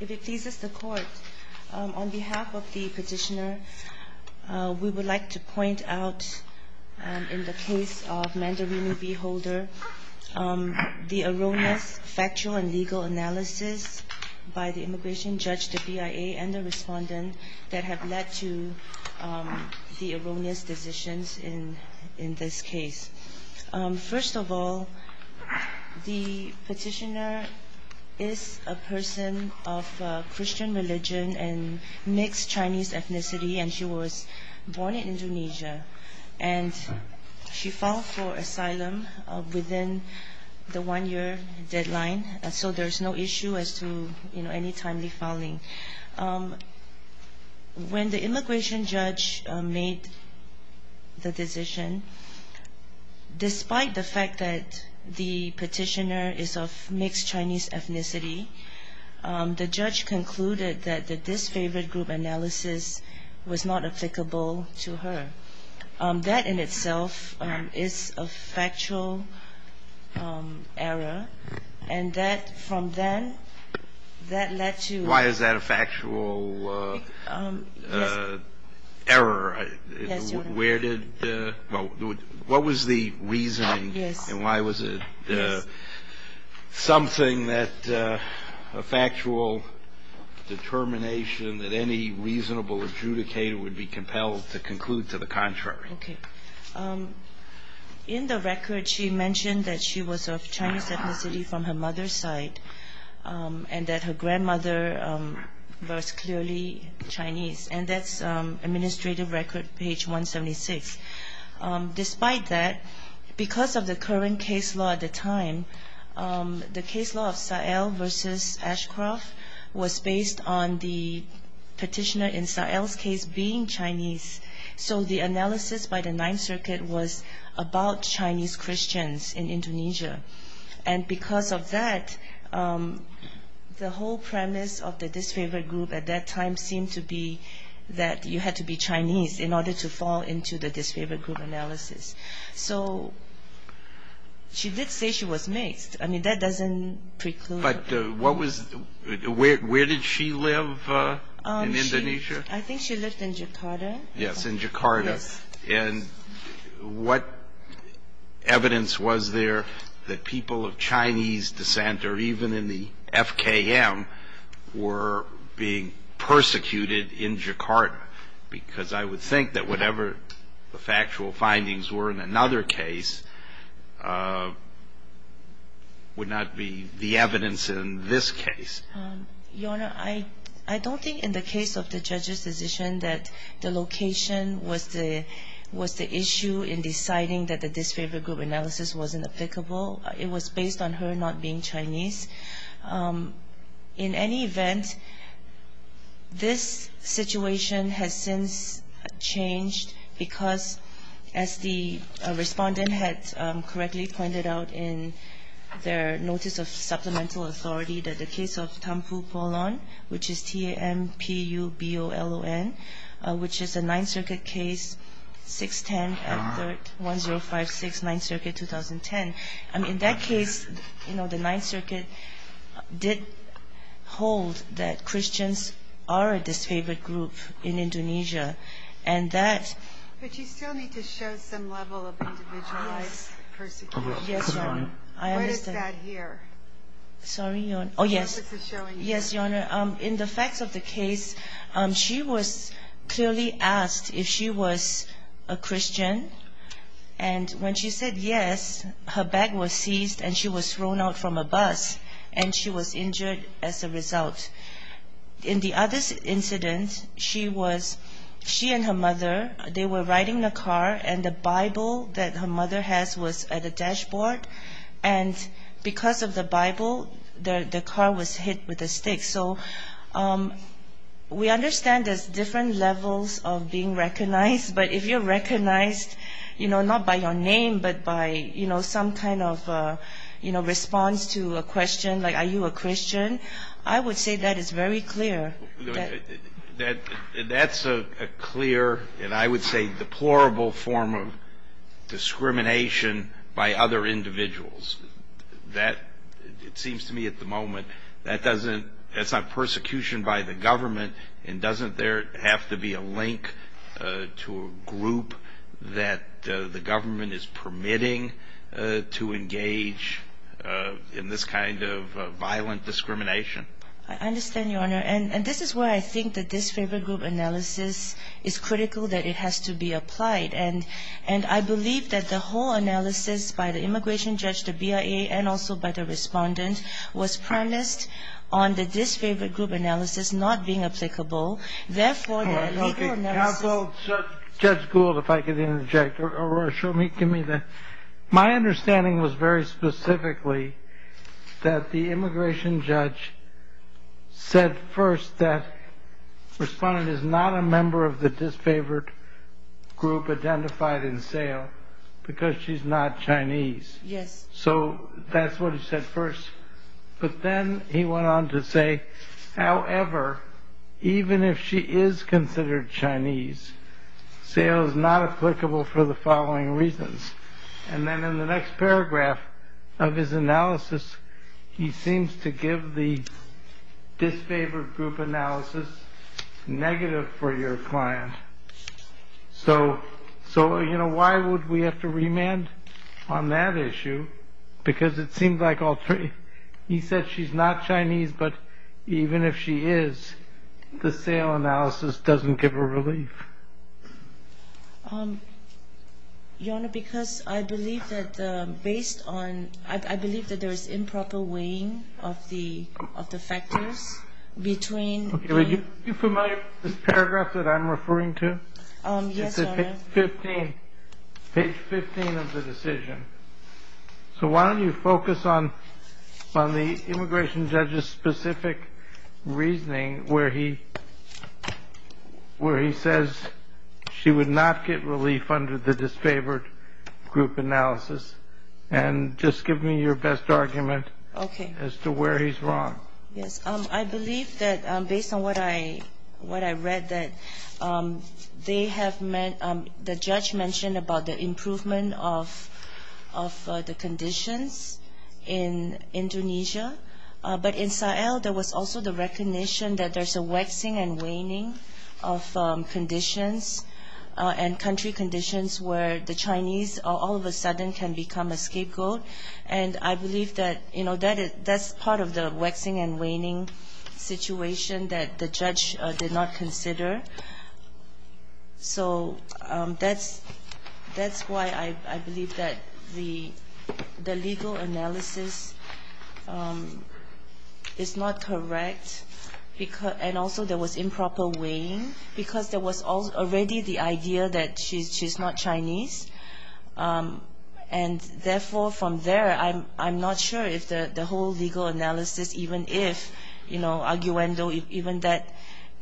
If it pleases the court, on behalf of the petitioner, we would like to point out in the case of Mandarini v. Holder, the erroneous factual and legal analysis by the immigration judge, the BIA, and the respondent that have led to the erroneous decisions in this case. First of all, the petitioner is a person of Christian religion and mixed Chinese ethnicity, and she was born in Indonesia, and she filed for asylum within the one-year deadline, so there's no issue as to any timely filing. When the immigration judge made the decision, despite the fact that the petitioner is of mixed Chinese ethnicity, the judge concluded that the disfavored group analysis was not applicable to her. That, in itself, is a factual error, and that, from then, that led to — Why is that a factual error? What was the reasoning, and why was it something that a factual determination that any reasonable adjudicator would be compelled to conclude to the contrary? Okay. In the record, she mentioned that she was of Chinese ethnicity from her mother's side, and that her grandmother was clearly Chinese, and that's Administrative Record, page 176. Despite that, because of the current case law at the time, the case law of Sahel versus Ashcroft was based on the petitioner in Sahel's case being Chinese, so the analysis by the Ninth Circuit was about Chinese Christians in Indonesia. And because of that, the whole premise of the disfavored group at that time seemed to be that you had to be Chinese in order to fall into the disfavored group analysis. So she did say she was mixed. I mean, that doesn't preclude — But what was — where did she live in Indonesia? I think she lived in Jakarta. Yes, in Jakarta. And what evidence was there that people of Chinese descent, or even in the FKM, were being persecuted in Jakarta? Because I would think that whatever the factual findings were in another case would not be the evidence in this case. Your Honor, I don't think in the case of the judge's decision that the location was the issue in deciding that the disfavored group analysis wasn't applicable. It was based on her not being Chinese. In any event, this situation has since changed because, as the respondent had correctly pointed out in their Notice of Supplemental Authority, that the case of Thampu Polon, which is T-A-M-P-U-B-O-L-O-N, which is a Ninth Circuit case, 610 at 1056 Ninth Circuit, 2010. I mean, in that case, you know, the Ninth Circuit did hold that Christians are a disfavored group in Indonesia. And that — But you still need to show some level of individualized persecution. Yes, Your Honor. What is that here? Sorry, Your Honor. Oh, yes. What was it showing you? Yes, Your Honor. In the facts of the case, she was clearly asked if she was a Christian. And when she said yes, her bag was seized and she was thrown out from a bus, and she was injured as a result. In the other incident, she was — she and her mother, they were riding in a car, and the Bible that her mother has was at a dashboard. And because of the Bible, the car was hit with a stick. So we understand there's different levels of being recognized. But if you're recognized, you know, not by your name, but by, you know, some kind of, you know, response to a question like, are you a Christian, I would say that is very clear. That's a clear and, I would say, deplorable form of discrimination by other individuals. That, it seems to me at the moment, that doesn't — that's not persecution by the government, and doesn't there have to be a link to a group that the government is permitting to engage in this kind of violent discrimination? I understand, Your Honor. And this is where I think that this favor group analysis is critical, that it has to be applied. And I believe that the whole analysis by the immigration judge, the BIA, and also by the respondent was premised on the disfavored group analysis not being applicable. Therefore, the legal analysis — Counsel, Judge Gould, if I could interject or show me — give me the — my understanding was very specifically that the immigration judge said first that the respondent is not a member of the disfavored group identified in Sayle because she's not Chinese. Yes. So that's what he said first. But then he went on to say, however, even if she is considered Chinese, Sayle is not applicable for the following reasons. And then in the next paragraph of his analysis, he seems to give the disfavored group analysis negative for your client. So, you know, why would we have to remand on that issue? Because it seems like all three — he said she's not Chinese, but even if she is, the Sayle analysis doesn't give her relief. Your Honor, because I believe that based on — I believe that there is improper weighing of the factors between — Are you familiar with this paragraph that I'm referring to? Yes, Your Honor. It's at page 15 of the decision. So why don't you focus on the immigration judge's specific reasoning where he says she would not get relief under the disfavored group analysis and just give me your best argument as to where he's wrong. Yes, I believe that based on what I read, that they have — the judge mentioned about the improvement of the conditions in Indonesia. But in Sayle, there was also the recognition that there's a waxing and waning of conditions and country conditions where the Chinese all of a sudden can become a scapegoat. And I believe that, you know, that's part of the waxing and waning situation that the judge did not consider. So that's why I believe that the legal analysis is not correct. And also there was improper weighing because there was already the idea that she's not Chinese. And therefore, from there, I'm not sure if the whole legal analysis, even if, you know, arguendo, even that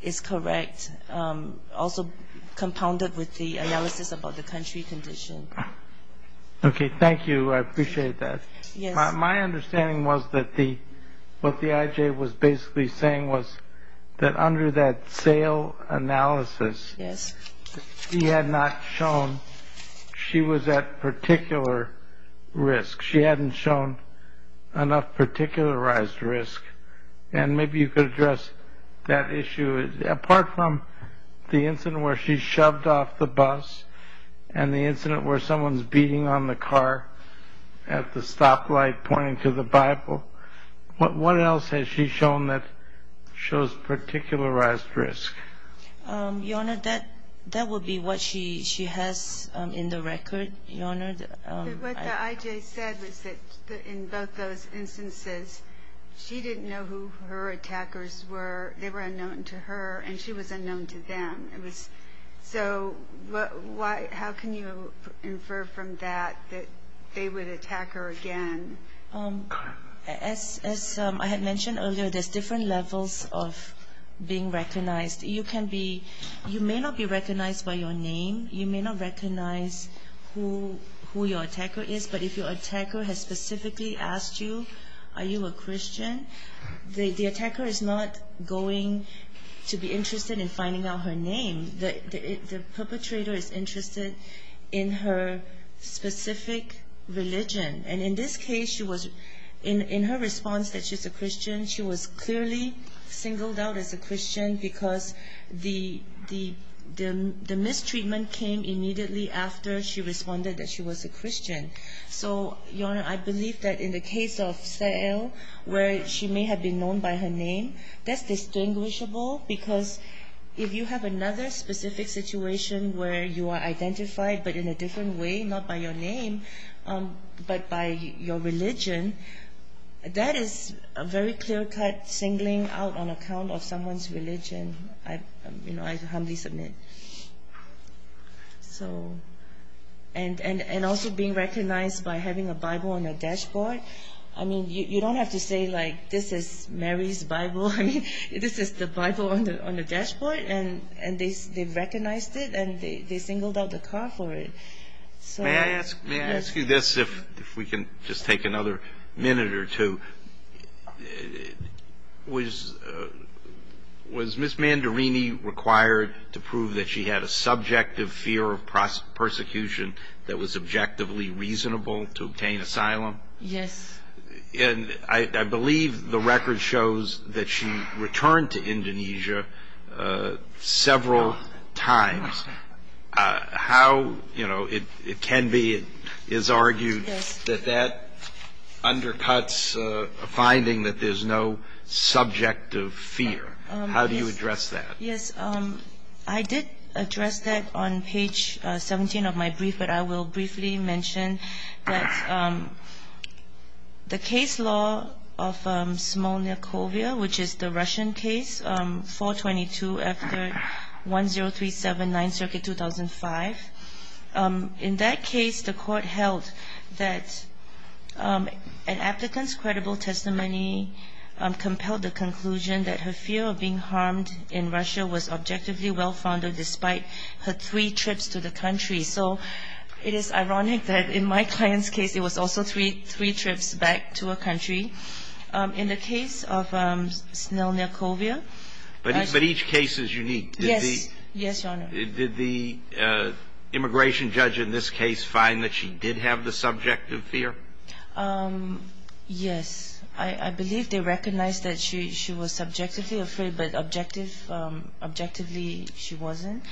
is correct, also compounded with the analysis about the country condition. Okay, thank you. I appreciate that. Yes. My understanding was that the — what the IJ was basically saying was that under that Sayle analysis, he had not shown she was at particular risk. She hadn't shown enough particularized risk. And maybe you could address that issue. Apart from the incident where she shoved off the bus and the incident where someone's beating on the car at the stoplight pointing to the Bible, what else has she shown that shows particularized risk? Your Honor, that would be what she has in the record, Your Honor. What the IJ said was that in both those instances, she didn't know who her attackers were. They were unknown to her, and she was unknown to them. So how can you infer from that that they would attack her again? As I had mentioned earlier, there's different levels of being recognized. You can be — you may not be recognized by your name. You may not recognize who your attacker is. But if your attacker has specifically asked you, are you a Christian, the attacker is not going to be interested in finding out her name. The perpetrator is interested in her specific religion. And in this case, she was — in her response that she's a Christian, she was clearly singled out as a Christian because the mistreatment came immediately after she responded that she was a Christian. So, Your Honor, I believe that in the case of Sa'el, where she may have been known by her name, that's distinguishable because if you have another specific situation where you are identified, but in a different way, not by your name, but by your religion, that is a very clear-cut singling out on account of someone's religion. I humbly submit. So — and also being recognized by having a Bible on your dashboard. I mean, you don't have to say, like, this is Mary's Bible. I mean, this is the Bible on the dashboard, and they've recognized it, and they singled out the car for it. May I ask you this, if we can just take another minute or two? Was Ms. Mandarini required to prove that she had a subjective fear of persecution that was objectively reasonable to obtain asylum? Yes. And I believe the record shows that she returned to Indonesia several times. How, you know, it can be is argued that that undercuts a finding that there's no subjective fear. How do you address that? Yes. I did address that on page 17 of my brief, but I will briefly mention that the case law of Smolniakovia, which is the Russian case, 422 after 1037, 9th Circuit, 2005. In that case, the court held that an applicant's credible testimony compelled the conclusion that her fear of being harmed in Russia was objectively well-founded, despite her three trips to the country. So it is ironic that in my client's case, it was also three trips back to a country. In the case of Smolniakovia. But each case is unique. Yes. Yes, Your Honor. Did the immigration judge in this case find that she did have the subjective fear? Yes. I believe they recognized that she was subjectively afraid, but objectively she wasn't.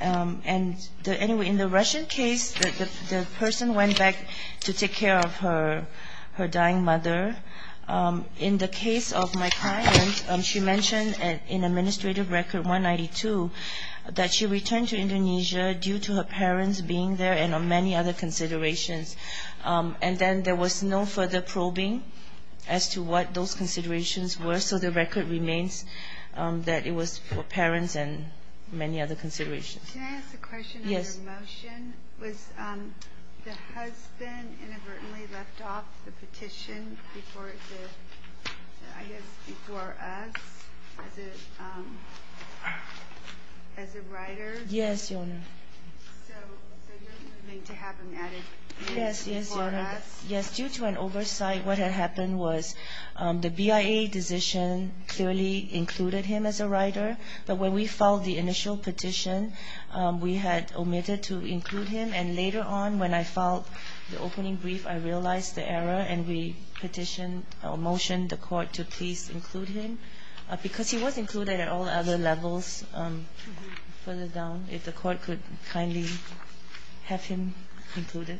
And anyway, in the Russian case, the person went back to take care of her dying mother. In the case of my client, she mentioned in Administrative Record 192 that she returned to Indonesia due to her parents being there and on many other considerations. And then there was no further probing as to what those considerations were. So the record remains that it was for parents and many other considerations. Can I ask a question on your motion? Yes. Was the husband inadvertently left off the petition before us as a writer? Yes, Your Honor. So you're claiming to have him at it before us? Yes. It was due to an oversight. What had happened was the BIA decision clearly included him as a writer. But when we filed the initial petition, we had omitted to include him. And later on, when I filed the opening brief, I realized the error, and we petitioned or motioned the court to please include him because he was included at all other levels. If the court could kindly have him included.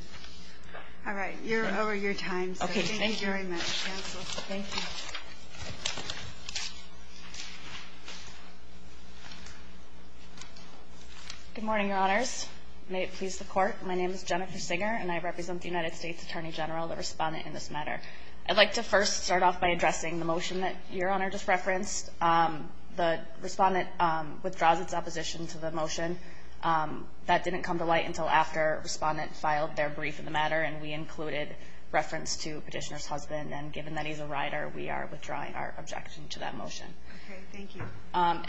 All right. You're over your time. Thank you very much. Thank you. Good morning, Your Honors. May it please the Court, my name is Jennifer Singer, and I represent the United States Attorney General, the respondent in this matter. I'd like to first start off by addressing the motion that Your Honor just referenced. The respondent withdraws its opposition to the motion. That didn't come to light until after respondent filed their brief in the matter, and we included reference to petitioner's husband. And given that he's a writer, we are withdrawing our objection to that motion. Okay, thank you.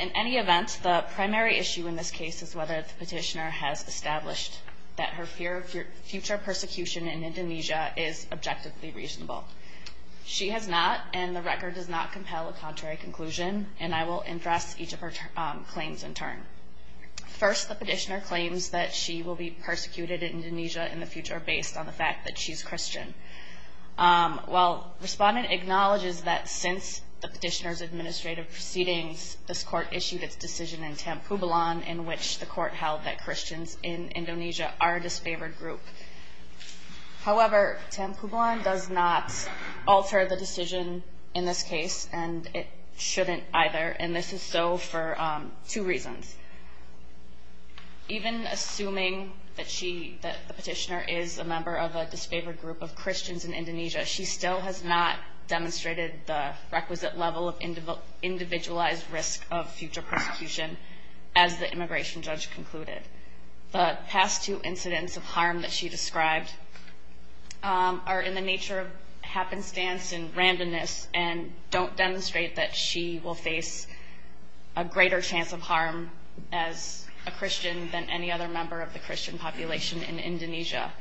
In any event, the primary issue in this case is whether the petitioner has established that her fear of future persecution in Indonesia is objectively reasonable. She has not, and the record does not compel a contrary conclusion. And I will address each of her claims in turn. First, the petitioner claims that she will be persecuted in Indonesia in the future based on the fact that she's Christian. Well, respondent acknowledges that since the petitioner's administrative proceedings, this Court issued its decision in Tanpubulan, in which the Court held that Christians in Indonesia are a disfavored group. However, Tanpubulan does not alter the decision in this case, and it shouldn't either, and this is so for two reasons. Even assuming that the petitioner is a member of a disfavored group of Christians in Indonesia, she still has not demonstrated the requisite level of individualized risk of future persecution, as the immigration judge concluded. The past two incidents of harm that she described are in the nature of happenstance and randomness and don't demonstrate that she will face a greater chance of harm as a Christian than any other member of the Christian population in Indonesia.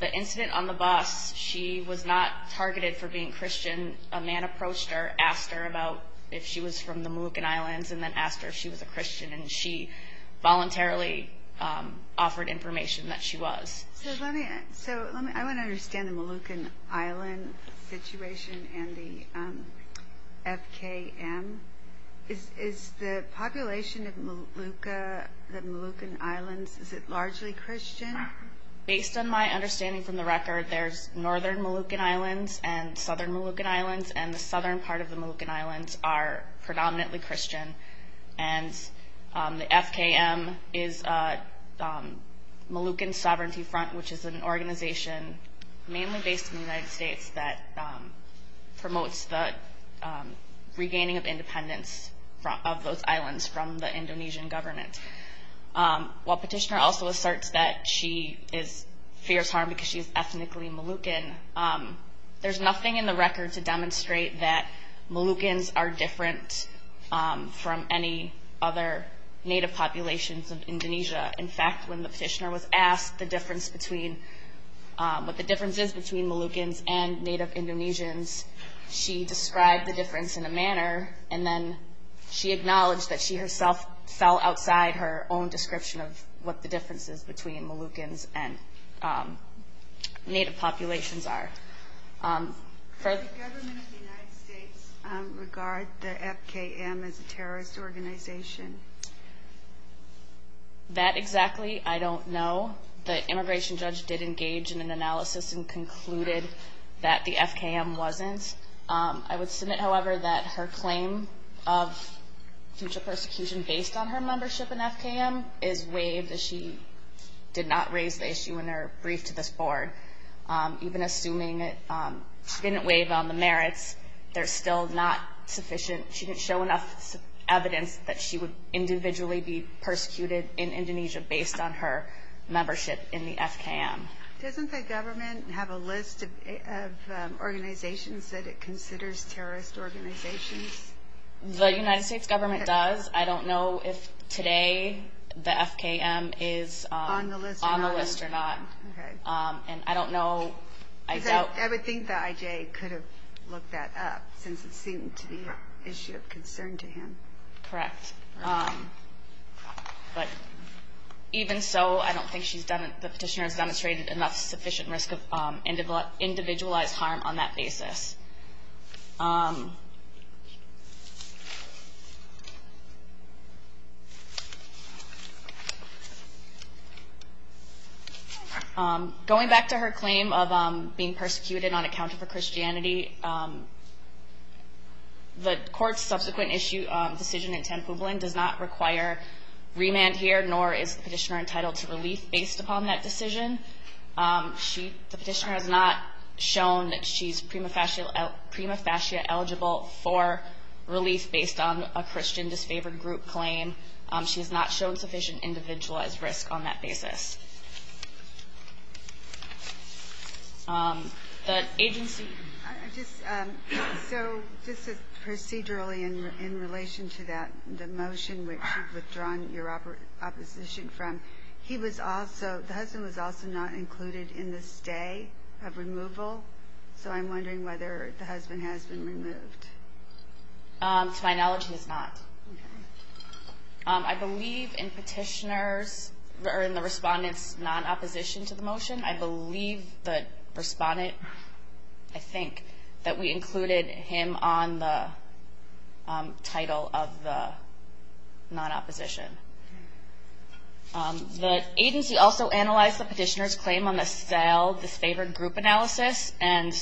The incident on the bus, she was not targeted for being Christian. A man approached her, asked her about if she was from the Moluccan Islands, and then asked her if she was a Christian, and she voluntarily offered information that she was. So I want to understand the Moluccan Island situation and the FKM. Is the population of Molucca, the Moluccan Islands, is it largely Christian? Based on my understanding from the record, there's northern Moluccan Islands and southern Moluccan Islands, and the southern part of the Moluccan Islands are predominantly Christian, and the FKM is Moluccan Sovereignty Front, which is an organization mainly based in the United States that promotes the regaining of independence of those islands from the Indonesian government. While Petitioner also asserts that she fears harm because she is ethnically Moluccan, there's nothing in the record to demonstrate that Moluccans are different from any other native populations of Indonesia. In fact, when the petitioner was asked what the difference is between Moluccans and native Indonesians, she described the difference in a manner, and then she acknowledged that she herself fell outside her own description of what the difference is between Moluccans and native populations are. Does the government of the United States regard the FKM as a terrorist organization? That exactly I don't know. The immigration judge did engage in an analysis and concluded that the FKM wasn't. I would submit, however, that her claim of future persecution based on her membership in FKM is waived, as she did not raise the issue in her brief to this board. Even assuming she didn't waive on the merits, they're still not sufficient. She didn't show enough evidence that she would individually be persecuted in Indonesia based on her membership in the FKM. Doesn't the government have a list of organizations that it considers terrorist organizations? The United States government does. I don't know if today the FKM is on the list or not. I would think the IJ could have looked that up, since it seemed to be an issue of concern to him. Correct. Even so, I don't think the petitioner has demonstrated enough sufficient risk of individualized harm on that basis. Going back to her claim of being persecuted on account of her Christianity, the court's subsequent decision in Tanpublin does not require remand here, nor is the petitioner entitled to relief based upon that decision. The petitioner has not shown that she's prima facie eligible for relief based on a Christian disfavored group claim. She has not shown sufficient individualized risk on that basis. Just procedurally in relation to that, the motion which you've withdrawn your opposition from, the husband was also not included in the stay of removal, so I'm wondering whether the husband has been removed. To my knowledge, he has not. Okay. I believe in the respondent's non-opposition to the motion, I believe the respondent, I think, that we included him on the title of the non-opposition. The agency also analyzed the petitioner's claim on the sale, disfavored group analysis, and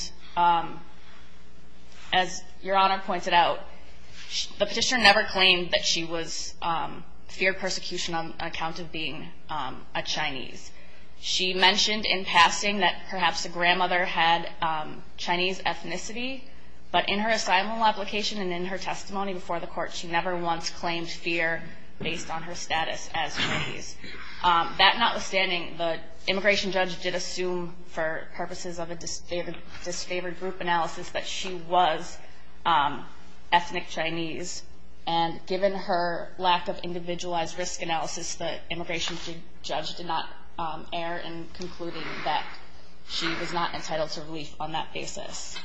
as Your Honor pointed out, the petitioner never claimed that she was feared persecution on account of being a Chinese. She mentioned in passing that perhaps a grandmother had Chinese ethnicity, but in her asylum application and in her testimony before the court, she never once claimed fear based on her status as Chinese. That notwithstanding, the immigration judge did assume for purposes of a disfavored group analysis that she was ethnic Chinese, and given her lack of individualized risk analysis, the immigration judge did not err in concluding that she was not entitled to relief on that basis.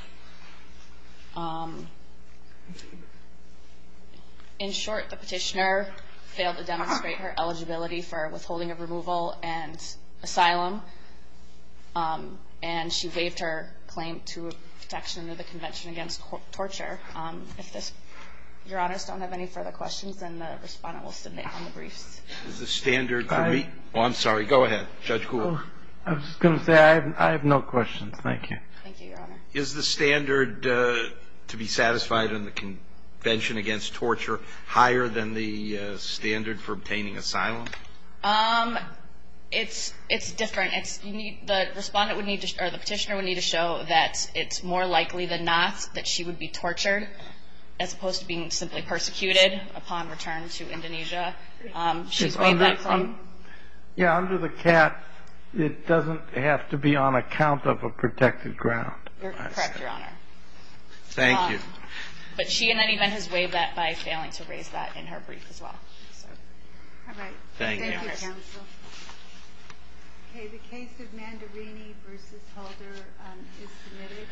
In short, the petitioner failed to demonstrate her eligibility for withholding of removal and asylum, and she waived her claim to protection of the Convention Against Torture. If Your Honors don't have any further questions, then the respondent will submit on the briefs. Is the standard to meet? Oh, I'm sorry. Go ahead, Judge Gould. I was just going to say I have no questions. Thank you. Thank you, Your Honor. Is the standard to be satisfied in the Convention Against Torture higher than the standard for obtaining asylum? It's different. The petitioner would need to show that it's more likely than not that she would be tortured, as opposed to being simply persecuted upon return to Indonesia. She's waived that claim. Yeah, under the CAT, it doesn't have to be on account of a protected ground. You're correct, Your Honor. Thank you. But she in any event has waived that by failing to raise that in her brief as well. All right. Thank you, Counsel. Okay, the case of Mandarini v. Holder is submitted.